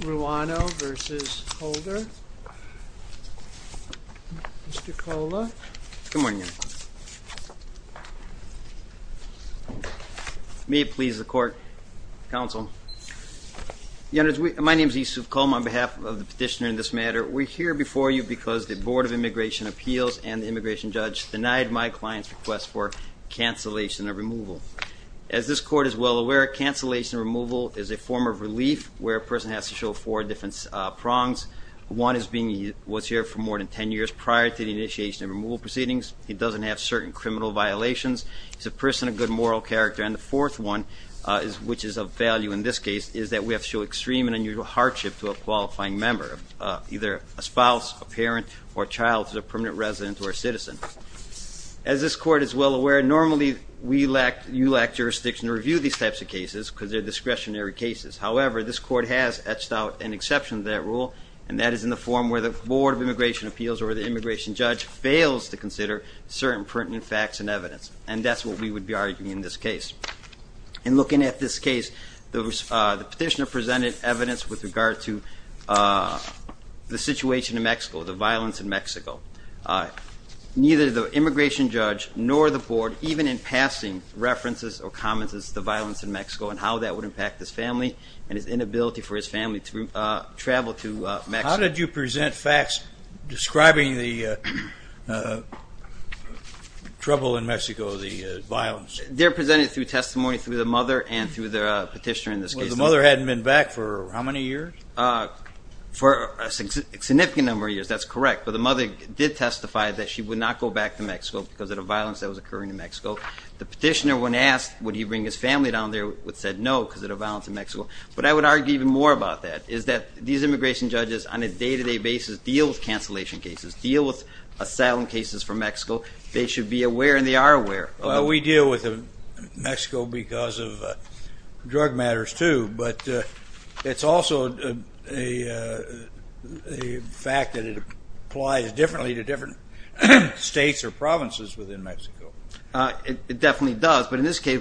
Ruano v. Holder. Mr. Kola. Good morning. May it please the court, counsel. My name is Yusuf Kola on behalf of the petitioner in this matter. We're here before you because the Board of Immigration Appeals and the immigration judge denied my client's request for cancellation of removal. As this court is well aware, cancellation removal is a form of relief where a person has to show four different prongs. One is being was here for more than 10 years prior to the initiation of removal proceedings. He doesn't have certain criminal violations. He's a person of good moral character. And the fourth one, which is of value in this case, is that we have to show extreme and unusual hardship to a qualifying member, either a spouse, a parent, or child who's a permanent resident or a citizen. As this court is well aware, normally we lack, you lack, jurisdiction to review these types of cases because they're discretionary cases. However, this court has etched out an exception to that rule, and that is in the form where the Board of Immigration Appeals or the immigration judge fails to consider certain pertinent facts and evidence. And that's what we would be arguing in this case. In looking at this case, the petitioner presented evidence with regard to the situation in Mexico, the violence in Mexico. Neither the immigration judge nor the board, even in passing, references or commences the violence in Mexico and how that would impact his family and his inability for his family to travel to Mexico. How did you present facts describing the trouble in Mexico, the violence? They're presented through testimony through the mother and through the petitioner in this case. The mother hadn't been back for how many years? For a significant number of years, that's correct. She did not go back to Mexico because of the violence that was occurring in Mexico. The petitioner, when asked, would he bring his family down there, said no because of the violence in Mexico. But I would argue even more about that, is that these immigration judges, on a day-to-day basis, deal with cancellation cases, deal with asylum cases from Mexico. They should be aware and they are aware. Well, we deal with Mexico because of drug matters too, but it's also a fact that it applies differently to different states or provinces within Mexico. It definitely does, but in this case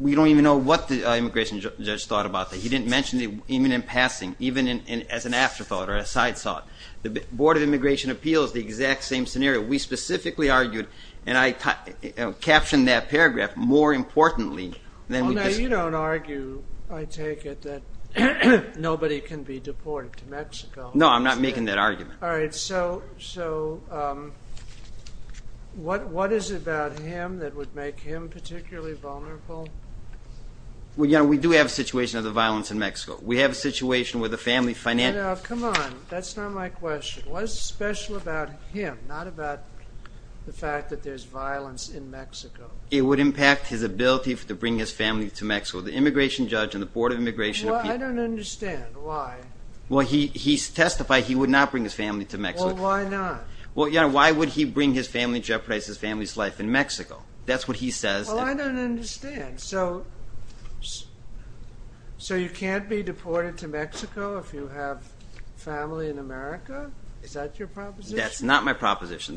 we don't even know what the immigration judge thought about that. He didn't mention it even in passing, even as an afterthought or a side thought. The Board of Immigration Appeals, the exact same scenario. We specifically argued, and I captioned that paragraph, more importantly. Now you don't argue, I take it, that nobody can be deported to Mexico. No, I'm not making that argument. All right, so what what is it about him that would make him particularly vulnerable? Well, you know, we do have a situation of the violence in Mexico. We have a situation where the family finance... Come on, that's not my question. What's special about him, not the fact that there's violence in Mexico? It would impact his ability to bring his family to Mexico. The immigration judge and the Board of Immigration... I don't understand why. Well, he testified he would not bring his family to Mexico. Why not? Well, why would he bring his family, jeopardize his family's life in Mexico? That's what he says. I don't understand. So you can't be deported to Mexico. The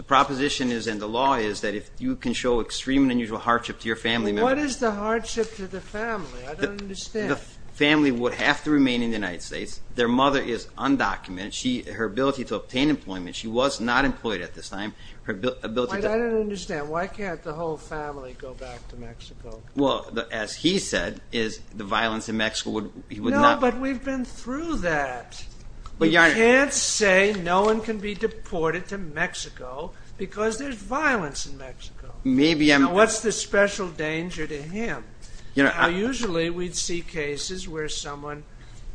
proposition is, and the law is, that if you can show extreme and unusual hardship to your family... What is the hardship to the family? I don't understand. The family would have to remain in the United States. Their mother is undocumented. Her ability to obtain employment, she was not employed at this time. I don't understand. Why can't the whole family go back to Mexico? Well, as he said, is the violence in Mexico... No, but we've been through that. You can't say no one can be deported to Mexico because there's violence in Mexico. What's the special danger to him? Usually, we'd see cases where someone,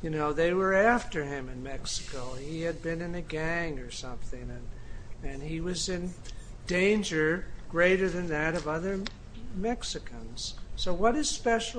they were after him in Mexico. He had been in a gang or something, and he was in danger greater than that of other Mexicans. So what is making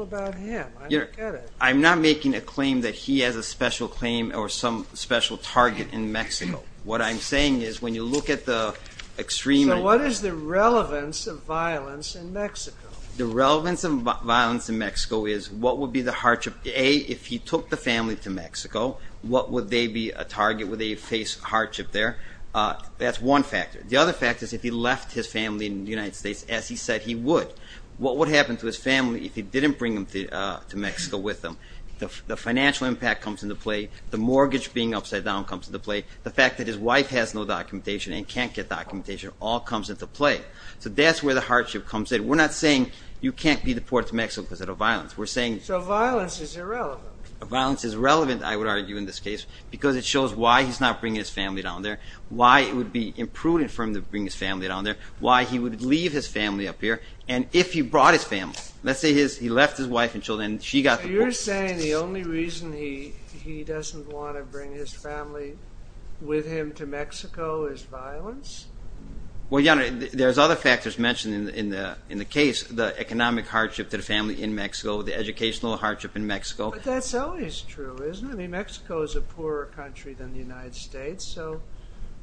a claim that he has a special claim or some special target in Mexico? What I'm saying is, when you look at the extreme... So what is the relevance of violence in Mexico? The relevance of violence in Mexico is, what would be the hardship? A, if he took the family to Mexico, what would they be a target? Would they face hardship there? That's one factor. The other factor is, if he left his family in the United States, as he said he would, what would happen to his family if he didn't bring them to Mexico with him? The financial impact comes into play. The mortgage being upside down comes into play. The fact that his wife has no documentation and can't get documentation all comes into play. So that's where the hardship comes in. We're not saying you can't be deported to Mexico because of violence. We're saying... So violence is irrelevant. Violence is relevant, I would argue in this case, because it shows why he's not bringing his family down there, why it would be imprudent for him to bring his family down there, why he would leave his family up here, and if he brought his family, let's say he left his wife and children and she got the... You're saying the only reason he doesn't want to bring his family with him to Mexico is violence? Well, Your Honor, there's other factors mentioned in the case. The economic hardship to the family in Mexico, the educational hardship in Mexico. But that's always true, isn't it? I mean, Mexico is a poorer country than the United States. So,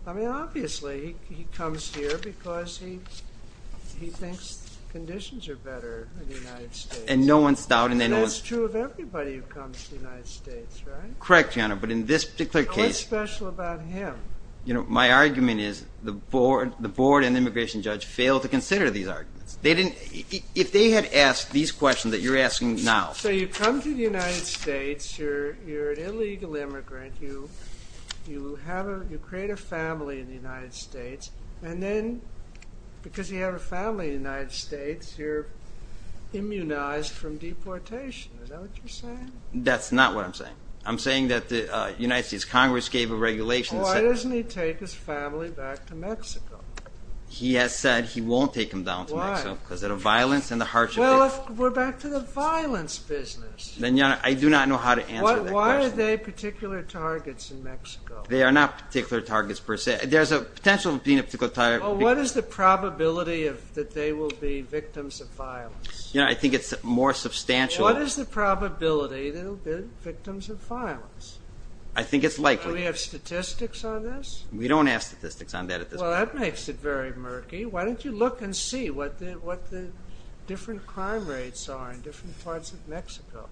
I mean, obviously he comes here because he thinks conditions are better in the United States. And no one's doubting that. That's true of everybody who comes to the United States, right? Correct, Your Honor, but in this particular case... What's special about him? You know, my argument is the board and immigration judge failed to consider these arguments. They didn't... If they had asked these questions that you're asking now... So you come to the United States, you're an illegal immigrant, you create a family in the United States, you're immunized from deportation. Is that what you're saying? That's not what I'm saying. I'm saying that the United States Congress gave a regulation... Why doesn't he take his family back to Mexico? He has said he won't take them down to Mexico. Why? Because of the violence and the hardship. Well, if we're back to the violence business... Then, Your Honor, I do not know how to answer that question. Why are they particular targets in Mexico? They are not particular targets per se. There's a potential of being a particular target... Well, what is the probability that they will be victims of violence? You know, I think it's more substantial... What is the probability that they'll be victims of violence? I think it's likely. Do we have statistics on this? We don't have statistics on that at this point. Well, that makes it very murky. Why don't you look and see what the different crime rates are in different parts of Mexico,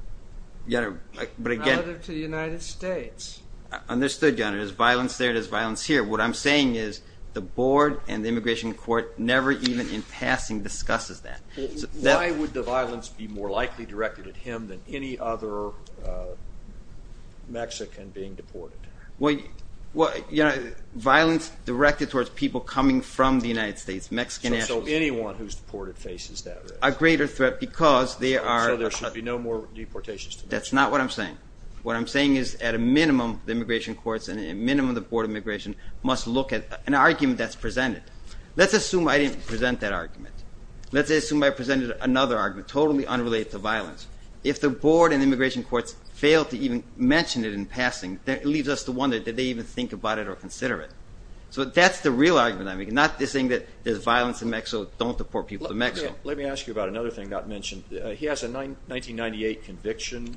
relative to the United States. Understood, Your Honor. There's violence there, there's violence here. What I'm saying is the board and the immigration court never even in passing discusses that. Why would the violence be more likely directed at him than any other Mexican being deported? Violence directed towards people coming from the United States, Mexican... So anyone who's deported faces that risk? A greater threat because they are... So there should be no more deportations to Mexico? That's not what I'm saying. What I'm saying is, at a minimum, the immigration courts and at a minimum, the Board of Immigration must look at an argument that's presented. Let's assume I didn't present that argument. Let's assume I presented another argument, totally unrelated to violence. If the board and immigration courts fail to even mention it in passing, that leaves us to wonder, did they even think about it or consider it? So that's the real argument I'm making, not this thing that there's violence in Mexico, don't deport people to Mexico. Let me ask you about another thing not mentioned. He has a 1998 conviction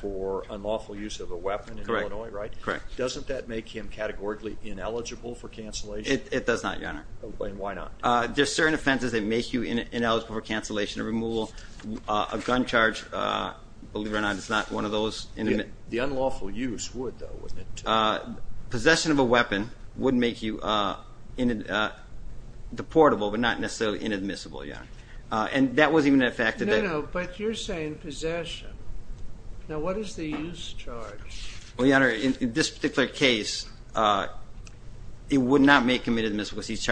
for unlawful use of a weapon in Illinois, right? Correct, correct. Doesn't that make him categorically ineligible for cancellation? It does not, Your Honor. And why not? There's certain offenses that make him ineligible for cancellation or removal. A gun charge, believe it or not, is not one of those. The unlawful use would, though, wouldn't it? Possession of a weapon would make you deportable, but not necessarily inadmissible, Your Honor. And that wasn't even a fact... No, no, but you're saying possession. Now what is the use charge? Well, Your Honor, in this particular case, it would not make him inadmissible because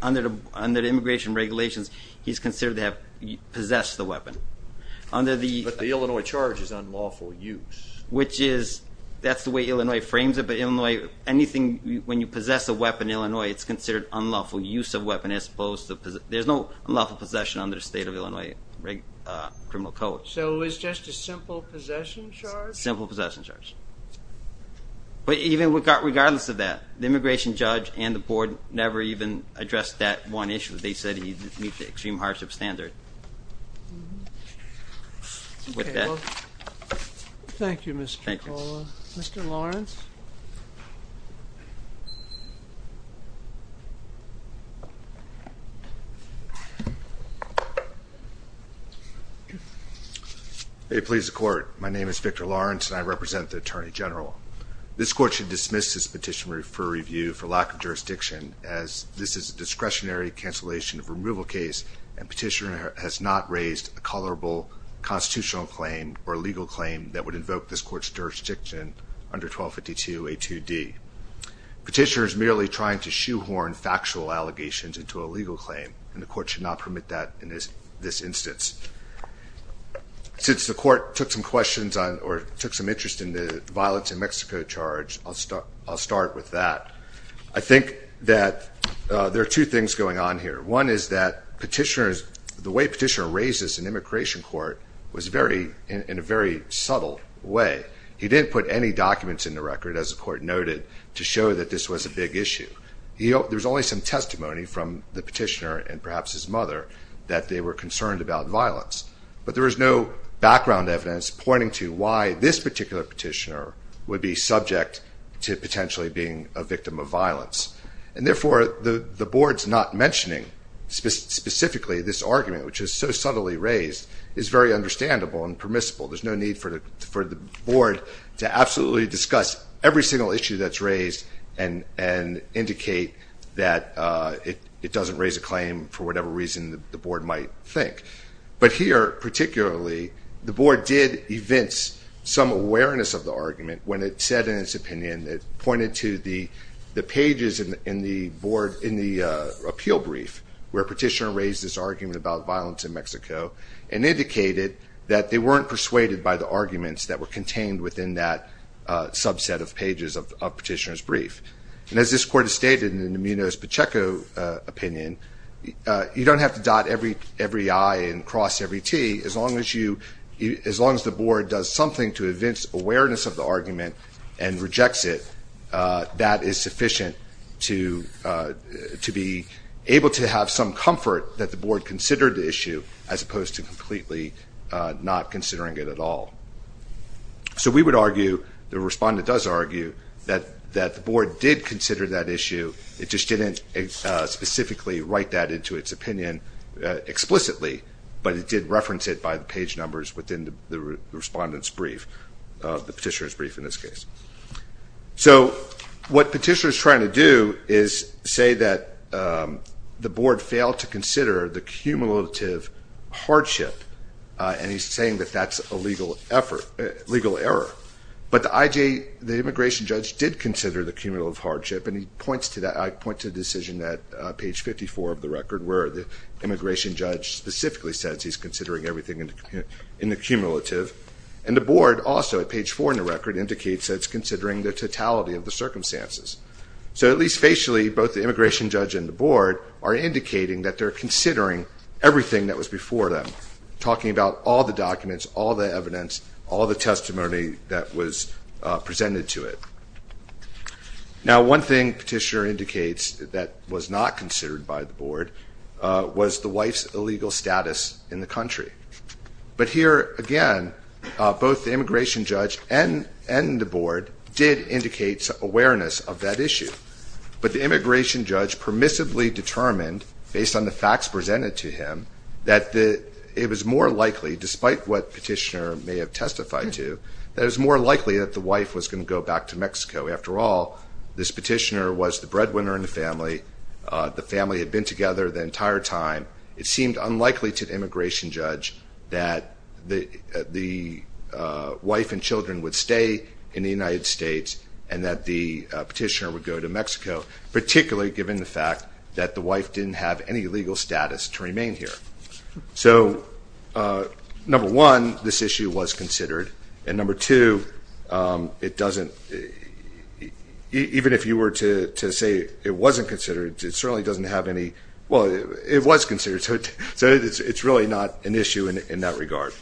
under the immigration regulations, he's considered to have possessed the weapon. But the Illinois charge is unlawful use. Which is, that's the way Illinois frames it, but Illinois, anything, when you possess a weapon in Illinois, it's considered unlawful use of weapon as opposed to... There's no unlawful possession under the state of Illinois criminal code. So it's just a simple possession charge? Simple possession charge. But even regardless of that, the immigration judge and the board never even addressed that one issue. They said he didn't meet the extreme hardship standard. With that... Thank you, Mr. McCullough. Mr. Lawrence? It pleases the Court. My name is Victor Lawrence, and I represent the Attorney General. This Court should dismiss this petition for review for lack of jurisdiction, as this is a discretionary cancellation of removal case, and petitioner has not raised a tolerable constitutional claim or legal claim that would invoke this Court's jurisdiction under 1252A2D. Petitioner is merely trying to shoehorn factual allegations into a legal claim, and the Court should not permit that in this instance. Since the Court took some questions on, or took some interest in the violence in Mexico charge, I'll start with that. I think that there are two things going on here. One is that petitioners, the way petitioner raises an immigration court was very, in a very subtle way. He didn't put any documents in the record, as the Court noted, to show that this was a big issue. There's only some testimony from the petitioner, and perhaps his mother, that they were concerned about violence. But there was no background evidence pointing to why this particular petitioner would be subject to potentially being a victim of violence. And therefore, the Board's not mentioning specifically this argument, which is so subtly raised, is very understandable and permissible. There's no need for the Board to absolutely discuss every single issue that's raised and indicate that it doesn't raise a claim for whatever reason the Board might think. But here, particularly, the Board did evince some awareness of the argument when it said in its opinion, it pointed to the pages in the appeal brief, where petitioner raised this argument about violence in Mexico, and indicated that they weren't persuaded by the arguments that were contained within that subset of pages of petitioner's brief. And as this Court has stated in the Munoz-Pacheco opinion, you don't have to dot every I and cross every T. As long as the Board does something to evince awareness of the argument and rejects it, that is sufficient to be able to have some comfort that the Board considered the issue, as opposed to completely not considering it at all. So we would argue, the Respondent does argue, that the Board did consider that issue, it just didn't specifically write that into its opinion explicitly, but it did reference it by the page numbers within the Respondent's brief, the petitioner's brief in this case. So what petitioner is trying to do is say that the Board failed to consider the cumulative hardship, and he's saying that that's a legal error. But the immigration judge did consider the cumulative hardship, and I point to the decision at page 54 of the record, where the immigration judge specifically says he's considering everything in the cumulative, and the Board also, at page 4 in the record, indicates that it's considering the totality of the circumstances. So at least facially, both the immigration judge and the Board are indicating that they're considering everything that was before them, talking about all the documents, all the evidence, all the testimony that was presented to it. Now, one thing petitioner indicates that was not considered by the Board was the wife's illegal status in the country. But here, again, both the immigration judge and the Board did indicate awareness of that issue. But the immigration judge permissively determined, based on the facts presented to him, that it was more likely, despite what petitioner may have testified to, that it was more likely that the wife was going to go back to Mexico. After all, this petitioner was the breadwinner in the family. The family had been together the entire time. It seemed unlikely to the immigration judge that the wife and children would stay in the United States and that the petitioner would go to Mexico, particularly given the fact that the wife didn't have any legal status to remain here. So, number one, this issue was considered. And number two, it doesn't, even if you were to say it wasn't considered, it certainly doesn't have any, well, it was considered, so it's really not an issue in that regard.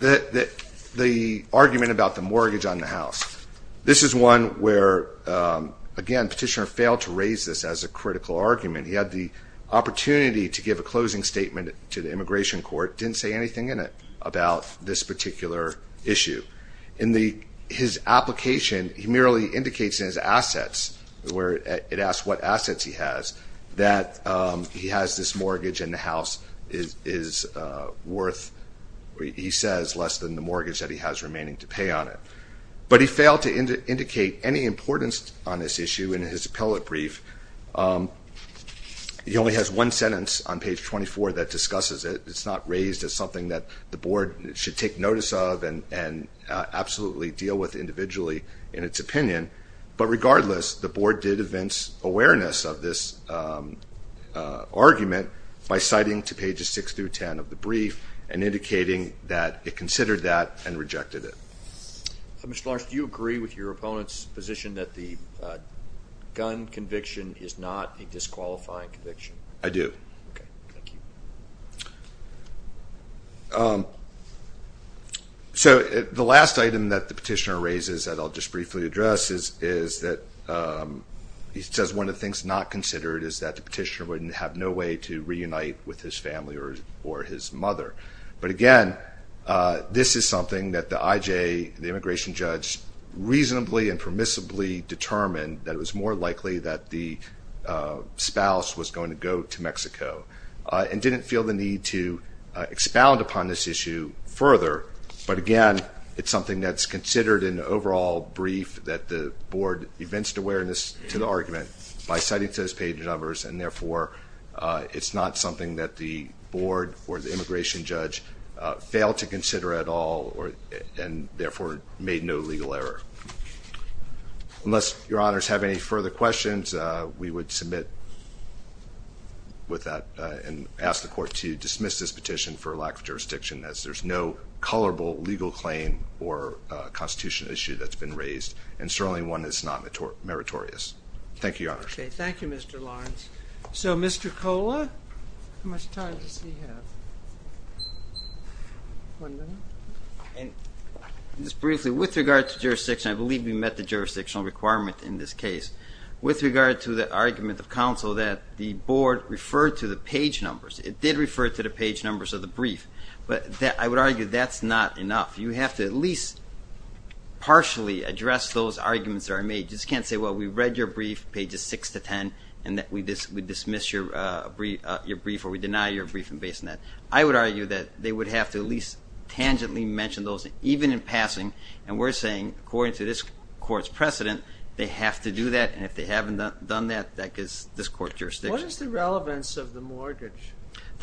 The argument about the mortgage on the house. This is one where, again, petitioner failed to raise this as a critical argument. He had the opportunity to give a closing statement to the immigration court, didn't say anything in it about this particular issue. In his application, he merely indicates in his assets, where it asks what assets he has, that he has this mortgage and the house is worth, he says, less than the mortgage that he has remaining to pay on it. But he failed to indicate any importance on this issue in his appellate brief. He only has one sentence on page 24 that discusses it. It's not raised as something that the board should take notice of and absolutely deal with individually in its opinion. But regardless, the board did evince awareness of this argument by citing to pages 6 through 10 of the brief and indicating that it considered that and rejected it. Mr. Larson, do you agree with your opponent's position that the gun conviction is not a disqualifying conviction? I do. So the last item that the petitioner raises that I'll just briefly address is that he says one of the things not considered is that the petitioner wouldn't have no way to reunite with his family or his mother. But again, this is something that the IJ, the immigration judge, reasonably and permissibly determined that it was more likely that the spouse was going to go to Mexico. And didn't feel the need to expound upon this issue further. But again, it's something that's considered in the overall brief that the board evinced awareness to the argument by citing to those page numbers. And therefore, it's not something that the board or the immigration judge failed to consider at all and therefore made no legal error. Unless your honors have any further questions, we would submit with that and ask the court to dismiss this petition for lack of jurisdiction as there's no colorable legal claim or constitution issue that's been raised. And certainly one that's not meritorious. Thank you, your honors. Thank you, Mr. Lawrence. So Mr. Cola, how much time does he have? One minute. Just briefly, with regard to jurisdiction, I believe we met the jurisdictional requirement in this case. With regard to the argument of counsel that the board referred to the page numbers. It did refer to the page numbers of the brief. I would argue that if those arguments are made, you just can't say, well, we read your brief, pages 6 to 10, and that we dismiss your brief or we deny your brief. I would argue that they would have to at least tangentially mention those, even in passing. And we're saying, according to this court's precedent, they have to do that. And if they haven't done that, that gives this court jurisdiction. The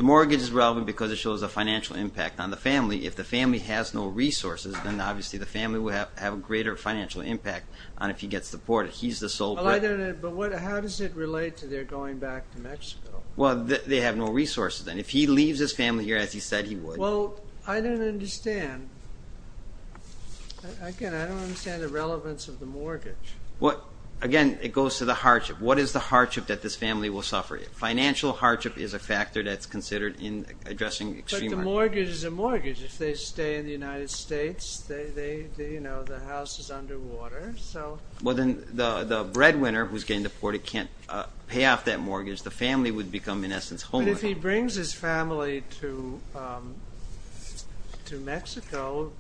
mortgage is relevant because it shows a financial impact on the family. If the family has no resources, then obviously the family would have a greater financial impact on if he gets deported. He's the sole breadwinner. But how does it relate to their going back to Mexico? Well, they have no resources then. If he leaves his family here, as he said he would. Well, I don't understand. Again, I don't understand the relevance of the mortgage. But the mortgage is a mortgage. If they stay in the United States, the house is underwater. Well, then the breadwinner who's getting deported can't pay off that mortgage. The family would become, in essence, homeless. But if he brings his family to Mexico,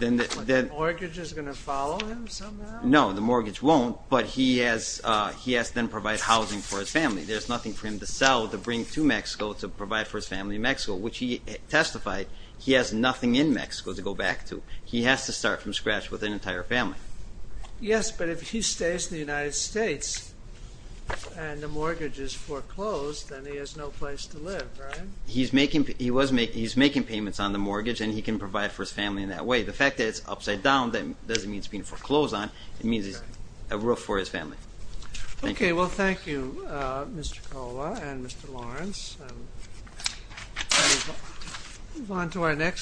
the mortgage is going to follow him somehow? No, the mortgage won't. But he has to then provide housing for his family. There's nothing for him to sell to bring to Mexico to provide for his family in Mexico, which he testified he has nothing in Mexico to go back to. He has to start from scratch with an entire family. Yes, but if he stays in the United States and the mortgage is foreclosed, then he has no place to live, right? He's making payments on the mortgage, and he can provide for his family in that way. The fact that it's upside down doesn't mean it's being foreclosed on. It means it's a roof for his family. Okay, well, thank you, Mr. Cola and Mr. Lawrence.